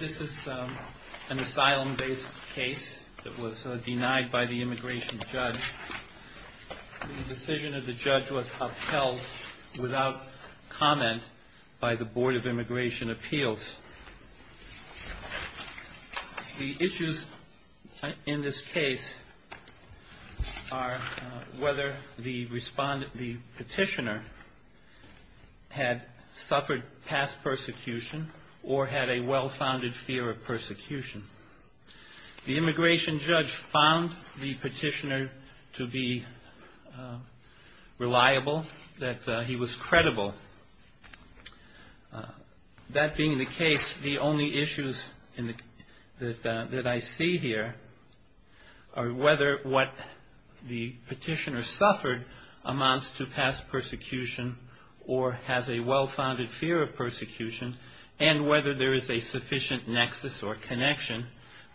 This is an asylum-based case that was denied by the immigration judge. The decision of the judge was upheld without comment by the Board of Immigration Appeals. The issues in this case are whether the petitioner had suffered past persecution or had a well-founded fear of persecution. The immigration judge found the petitioner to be reliable, that he was reliable, or whether what the petitioner suffered amounts to past persecution or has a well-founded fear of persecution, and whether there is a sufficient nexus or connection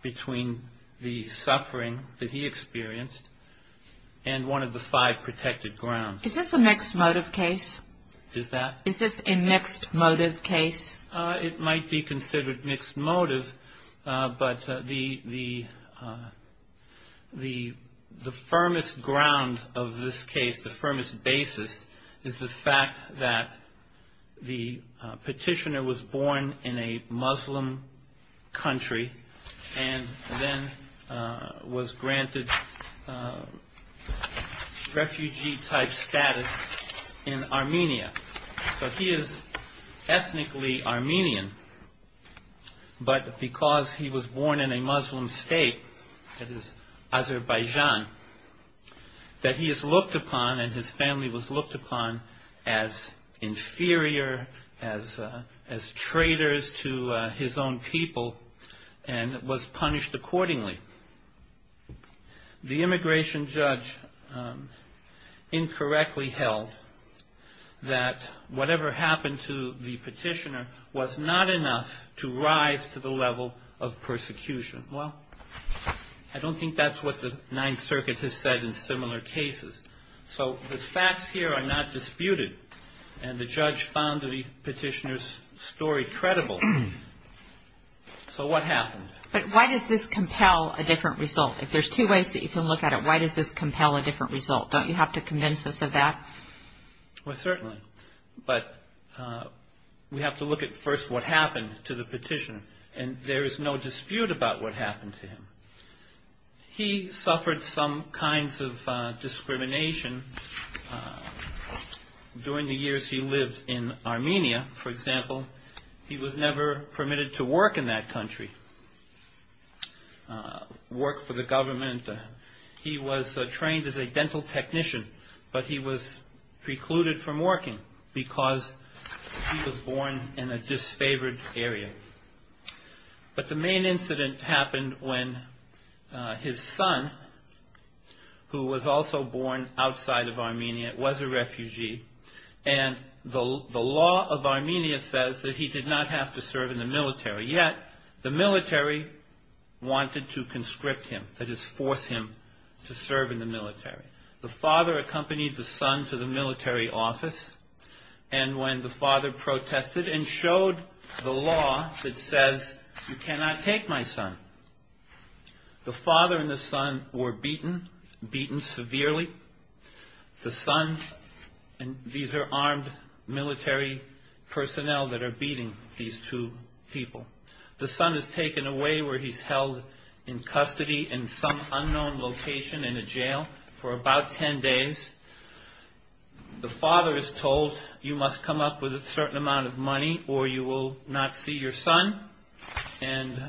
between the suffering that he experienced and one of the five protected grounds. Is this a mixed motive case? Is that? Is this a mixed motive case? It might be considered mixed motive, but the firmest ground of this case, the firmest basis, is the fact that the petitioner was born in a Muslim country and then was granted refugee-type status in Armenia. So he is ethnically Armenian, but because he was born in a Muslim state, that is, Azerbaijan, that he is looked upon and his family was looked upon as inferior, as traitors to his own people, and was punished accordingly. The immigration judge incorrectly held that whatever happened to the petitioner was not enough to rise to the level of persecution. Well, I don't think that's what the Ninth And the judge found the petitioner's story credible. So what happened? But why does this compel a different result? If there's two ways that you can look at it, why does this compel a different result? Don't you have to convince us of that? Well, certainly. But we have to look at first what happened to the petitioner, and there the years he lived in Armenia, for example, he was never permitted to work in that country, work for the government. He was trained as a dental technician, but he was precluded from working because he was born in a disfavored area. But the main incident happened when his son, who was also born outside of Armenia, was a refugee, and the law of Armenia says that he did not have to serve in the military, yet the military wanted to conscript him, that is, force him to serve in the military. The father accompanied the son to the military The father and the son were beaten, beaten severely. The son, and these are armed military personnel that are beating these two people. The son is taken away where he's held in custody in some unknown location in a jail for about 10 days. The father is told, you must come up with a certain amount of money or you will not see your son, and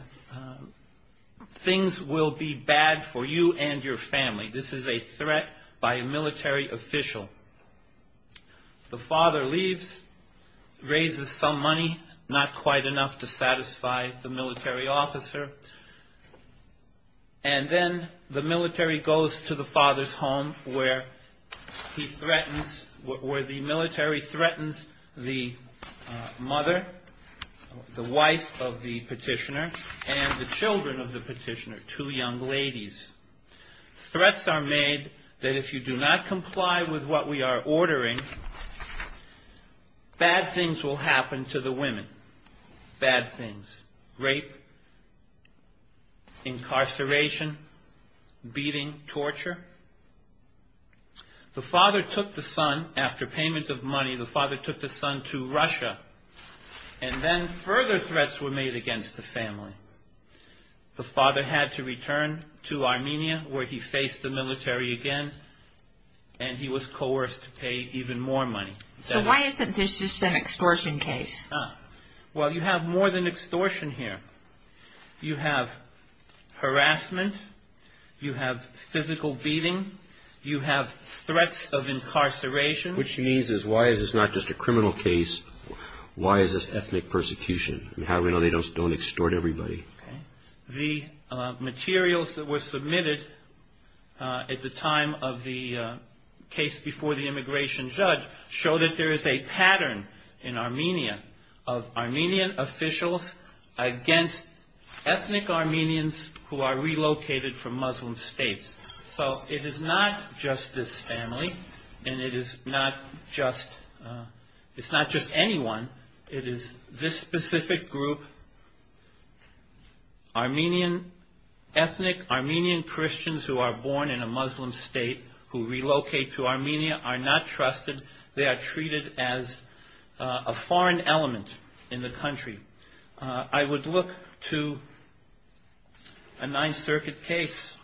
things will be bad for you and your family. This is a threat by a military official. The father leaves, raises some money, not quite enough to satisfy the military officer, and then the military goes to the father's home where he threatens, where the military threatens the mother, the wife of the petitioner, and the children of the petitioner, two young ladies. Threats are made that if you do not comply with what we are ordering, bad things will happen to the women. Bad things. Rape, incarceration, beating, torture, murder. These are all things that are torture. The father took the son, after payment of money, the father took the son to Russia, and then further threats were made against the family. The father had to return to Armenia where he faced the military again, and he was coerced to pay even more money. So why isn't this just an extortion case? Well, you have more than extortion here. You have harassment. You have physical beating. You have threats of incarceration. Which means is why is this not just a criminal case? Why is this ethnic persecution? And how do we know they don't extort everybody? Okay. The materials that were submitted at the time of the case before the immigration judge showed that there is a pattern in Armenia of Armenian officials against ethnic Armenians who are relocated from Muslim states. So it is not just this family, and it is not just anyone. It is this specific group, Armenian, ethnic Armenian Christians who are born in a Muslim state who relocate to Armenia are not trusted. They are treated as a foreign element in the country. I would look to a Ninth Circuit case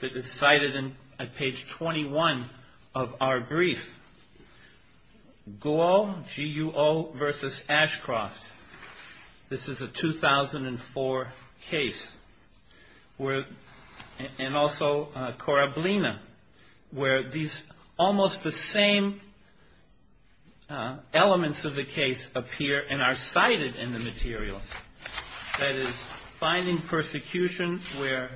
that is cited at page 21 of our brief, Guo versus Ashcroft. This is a 2004 case. And also Korablina, where these almost the same elements of the case appear and are cited in the materials. That is finding persecution where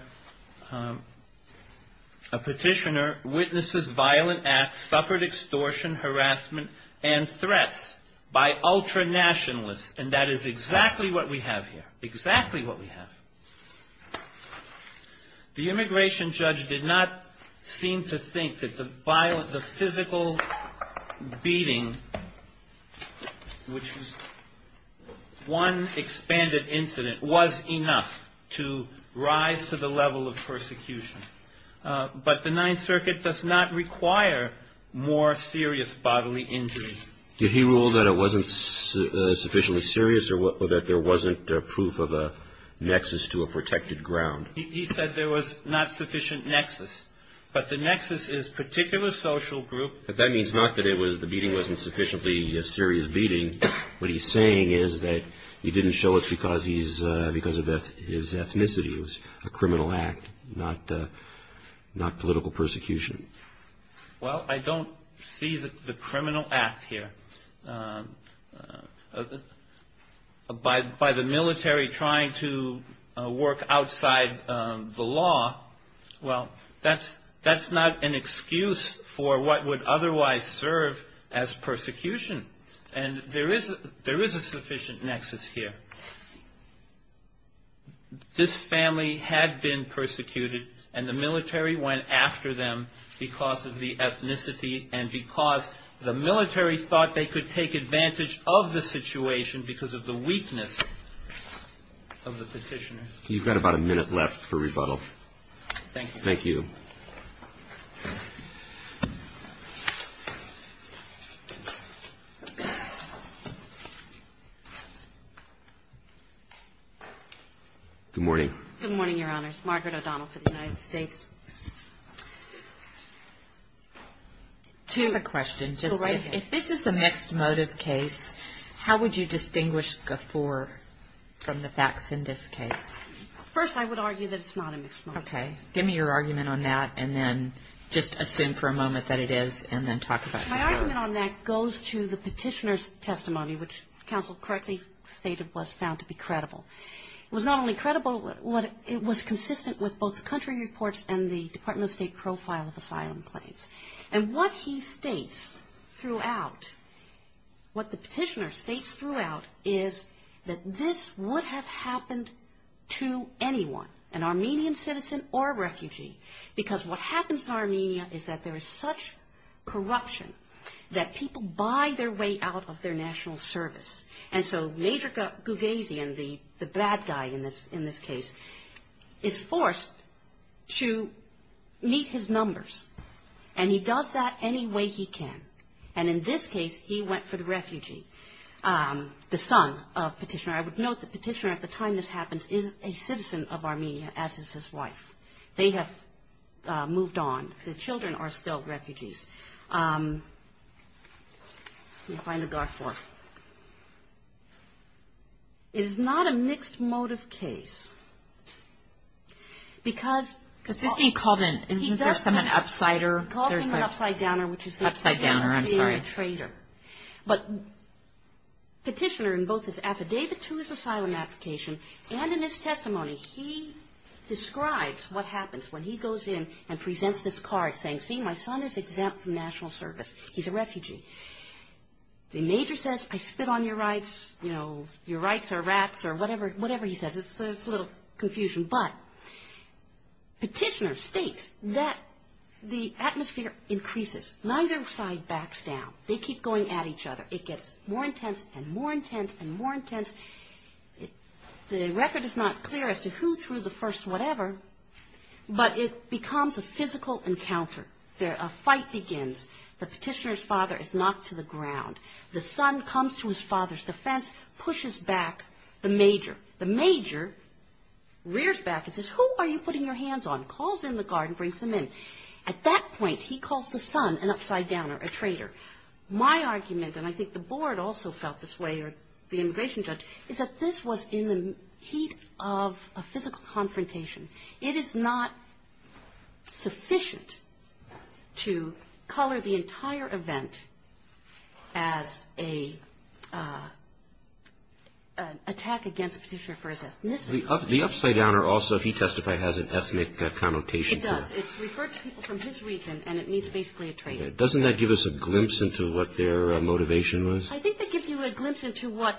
a petitioner witnesses violent acts, suffered extortion, harassment, and threats by ultra-nationalists. And that is exactly what we have here. Exactly what we have. The immigration judge did not seem to think that the physical beating, which was one expanded incident, was enough to rise to the level of persecution. But the Ninth Circuit does not require more serious bodily injury. Did he rule that it was not sufficiently serious or that there was not proof of a nexus to a protected ground? He said there was not sufficient nexus. But the nexus is particular social group. That means not that the beating was not sufficiently a serious beating. What he is saying is that he did not show it because of his ethnicity. It was a criminal act, not political persecution. Well, I don't see the criminal act here. By the military trying to work outside the law, well, that's not an excuse for what would otherwise serve as persecution. And there is a sufficient nexus here. This family had been persecuted and the military went after them because of the ethnicity and because the military thought they could take advantage of the situation because of the weakness of the petitioners. You've got about a minute left for rebuttal. Thank you. Good morning. Good morning, Your Honor. I have a question. If this is a mixed motive case, how would you distinguish the four from the facts in this case? First, I would argue that it's not a mixed motive case. Okay. Give me your argument on that and then just assume for a moment that it is and then talk about it. My argument on that goes to the petitioner's testimony, which counsel correctly stated was found to be credible. It was not only credible, it was consistent with both the country reports and the Department of State profile of asylum claims. And what he states throughout, what the petitioner states throughout is that this would have happened to anyone, an Armenian citizen or a refugee, because what happens in Armenia is that there is such corruption that people buy their way out of their national service. And so Major Gugazian, the bad guy in this case, is forced to meet his numbers and he does that any way he can. And in this case, he went for the refugee, the son of petitioner. I would note the petitioner at the time this happens is a citizen of Armenia as is his wife. They have moved on. The children are still refugees. Let me find a dark board. It is not a mixed motive case. Because he calls him an upside downer, which is a traitor. But petitioner in both his affidavit to his asylum application and in his testimony, he describes what happens when he goes in and presents this card saying, see, my son is exempt from national service. He's a refugee. The major says, I spit on your rights. You know, your rights are rats or whatever he says. It's a little confusion. But petitioner states that the atmosphere increases. Neither side backs down. They keep going at each other. It gets more intense and more intense and more intense. The record is not clear as to who threw the first whatever, but it becomes a physical encounter. A fight begins. The petitioner's father is knocked to the ground. The son comes to his father's defense, pushes back the major. The major rears back and says, who are you putting your hands on? Calls in the guard and brings them in. At that point, he calls the son an upside downer, a traitor. My argument, and I think the board also felt this way or the immigration judge, is that this was in the heat of a physical confrontation. It is not sufficient to color the entire event as an attack against a petitioner for his ethnicity. The upside downer also, if he testified, has an ethnic connotation to it. It does. It's referred to people from his region, and it means basically a traitor. Doesn't that give us a glimpse into what their motivation was? I think that gives you a glimpse into what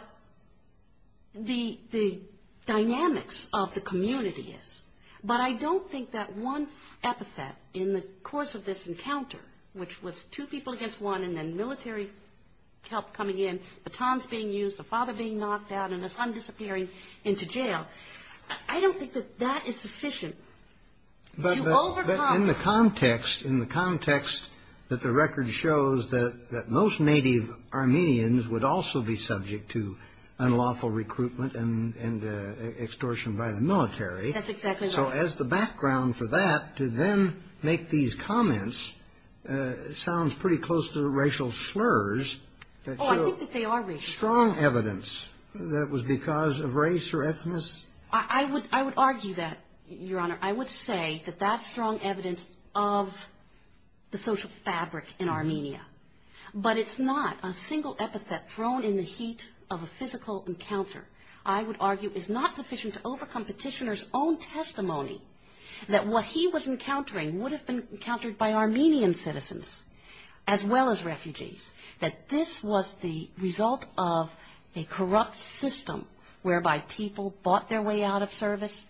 the dynamics of the community is. But I don't think that one epithet in the course of this encounter, which was two people against one and then military help coming in, batons being used, the father being knocked out, and the son disappearing into jail, I don't think that that is sufficient to overcome. But in the context that the record shows that most native Armenians would also be subject to unlawful recruitment and extortion by the military, so as the background for that, to then make these comments sounds pretty close to racial slurs. Oh, I think that they are racial slurs. Strong evidence that it was because of race or ethnicity. I would argue that, Your Honor. I would say that that's strong evidence of the social fabric in Armenia. But it's not a single epithet thrown in the heat of a physical encounter, I would argue, is not sufficient to overcome Petitioner's own testimony that what he was encountering would have been encountered by Armenian citizens as well as refugees, that this was the result of a corrupt system whereby people bought their way out of service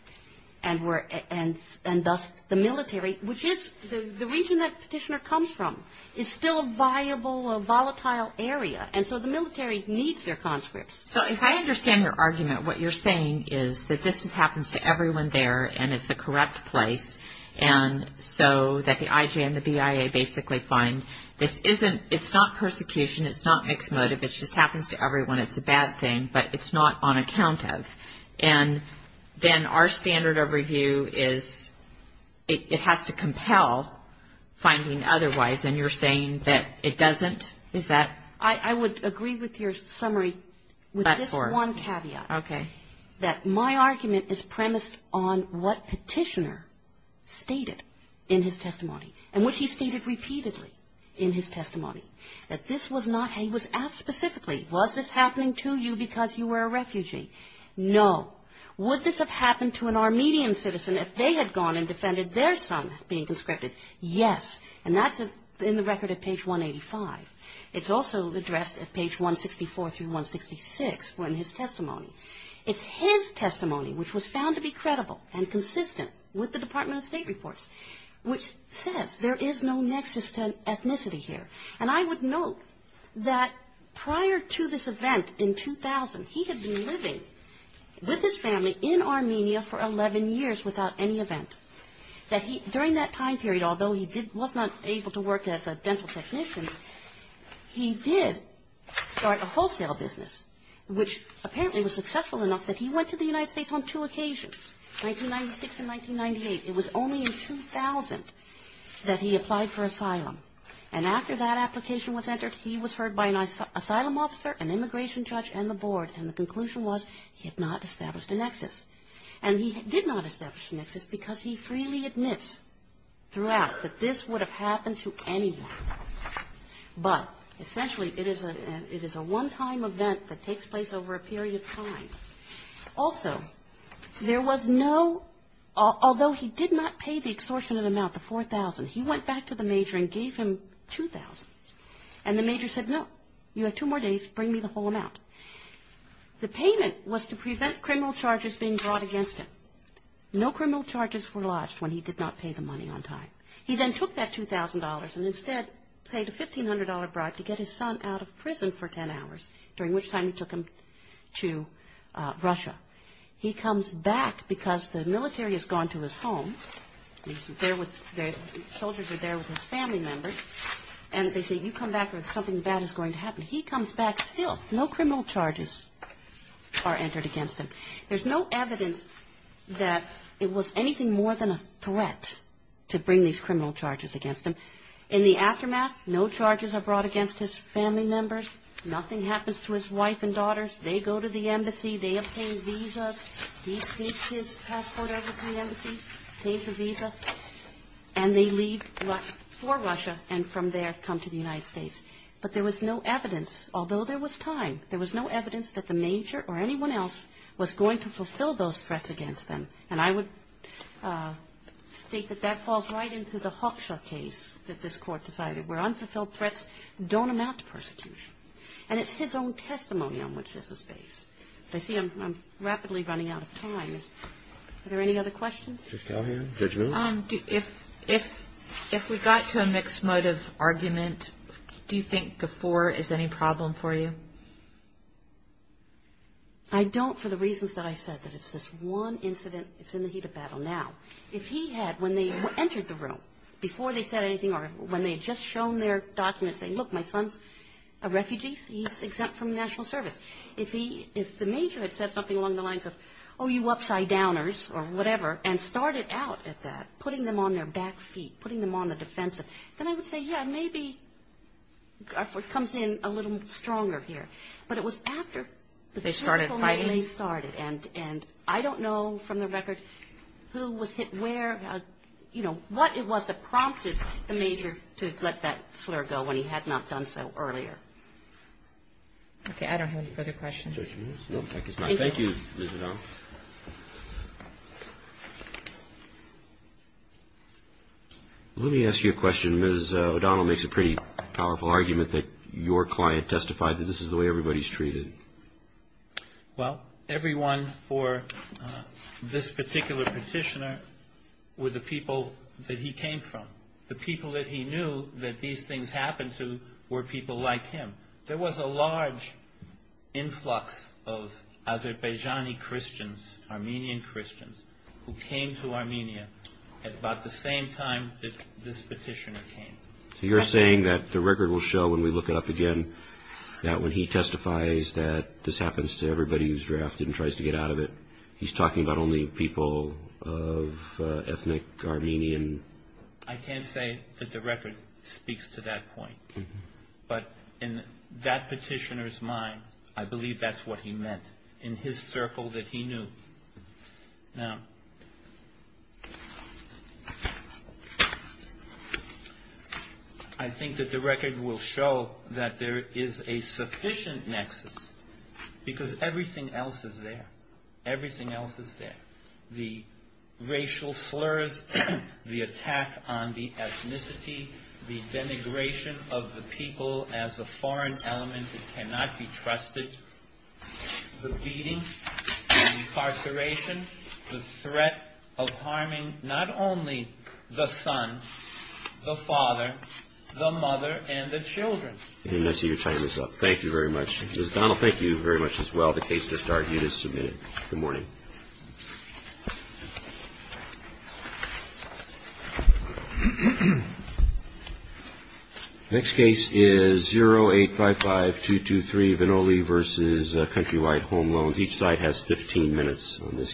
and thus the military, which is the reason that Petitioner comes from, is still a viable, a volatile area. And so the military needs their conscripts. So if I understand your argument, what you're saying is that this happens to everyone there and it's a corrupt place, and so that the IJ and the BIA basically find this isn't, it's not persecution, it's not mixed motive, it just happens to everyone, it's a bad thing, but it's not on account of. And then our standard of review is it has to compel finding otherwise, and you're saying that it doesn't? Is that? I would agree with your summary with this one caveat. Okay. That my argument is premised on what Petitioner stated in his testimony and what he stated repeatedly in his testimony, that this was not, he was asked specifically, was this happening to you because you were a refugee? No. Would this have happened to an Armenian citizen if they had gone and defended their son being conscripted? Yes. And that's in the record at page 185. It's also addressed at page 164 through 166 in his testimony. It's his testimony which was found to be credible and consistent with the Department of State reports, which says there is no nexus to ethnicity here. And I would note that prior to this event in 2000, he had been living with his family in Armenia for 11 years without any event. During that time period, although he did, was not able to work as a dental technician, he did start a wholesale business, which apparently was successful enough that he went to the that he applied for asylum. And after that application was entered, he was heard by an asylum officer, an immigration judge, and the board. And the conclusion was he had not established a nexus. And he did not establish a nexus because he freely admits throughout that this would have happened to anyone. But essentially, it is a one-time event that takes place over a period of time. Also, there was no, although he did not pay the extortionate amount, the $4,000, he went back to the major and gave him $2,000. And the major said, no, you have two more days, bring me the whole amount. The payment was to prevent criminal charges being brought against him. No criminal charges were lodged when he did not pay the money on time. He then took that $2,000 and instead paid a $1,500 bribe to get his son out of prison for ten hours, during which time he took him to Russia. He comes back because the military has gone to his home. The soldiers are there with his family members. And they say, you come back or something bad is going to happen. He comes back still. No criminal charges are entered against him. There's no evidence that it was anything more than a threat to bring these criminal charges against him. In the aftermath, no charges are brought against his family members. Nothing happens to his wife and daughters. They go to the embassy. They obtain visas. He seeks his passport out of the embassy, pays a visa, and they leave for Russia, and from there come to the United States. But there was no evidence, although there was time, there was no evidence that the major or anyone else was going to fulfill those threats against them. And I would state that that falls right into the Hawkshaw case that this Court decided, where unfulfilled threats don't amount to I see I'm rapidly running out of time. Are there any other questions? Judge Calhoun? Judge Miller? If we got to a mixed motive argument, do you think Gafoor is any problem for you? I don't for the reasons that I said, that it's this one incident. It's in the heat of battle now. If he had, when they entered the room, before they said anything or when they had just shown their documents, said, look, my son's a refugee. He's exempt from national service. If he, if the major had said something along the lines of, oh, you upside-downers or whatever, and started out at that, putting them on their back feet, putting them on the defensive, then I would say, yeah, maybe Gafoor comes in a little stronger here. But it was after they started, and I don't know from the record who was hit where, you know, what it was that prompted the major to let that slur go when he had not done so earlier. Okay. I don't have any further questions. Thank you, Ms. O'Donnell. Let me ask you a question. Ms. O'Donnell makes a pretty powerful argument that your client testified that this is the way everybody's treated. Well, everyone for this particular petitioner were the people that he came from. The people that he knew that these things happened to were people like him. There was a large influx of Azerbaijani Christians, Armenian Christians, who came to Armenia at about the same time that this petitioner came. So you're saying that the record will show when we look it up again, that when he testifies that this happens to everybody who's drafted and tries to get out of it, he's talking about only people of ethnic Armenian? I can't say that the record speaks to that point. But in that petitioner's mind, I believe that's what he meant in his circle that he knew. Now, I think that the record will show that there is a sufficient nexus because everything else is there. Everything else is there. The attack on the ethnicity, the denigration of the people as a foreign element that cannot be trusted, the beating, the incarceration, the threat of harming not only the son, the father, the mother, and the children. And I see you're tying this up. Thank you very much. Ms. O'Donnell, thank you very much as well. The case is discharged. It is submitted. Good morning. The next case is 0855223, Vinole v. Countrywide Home Loans. Each side has 15 minutes on this case.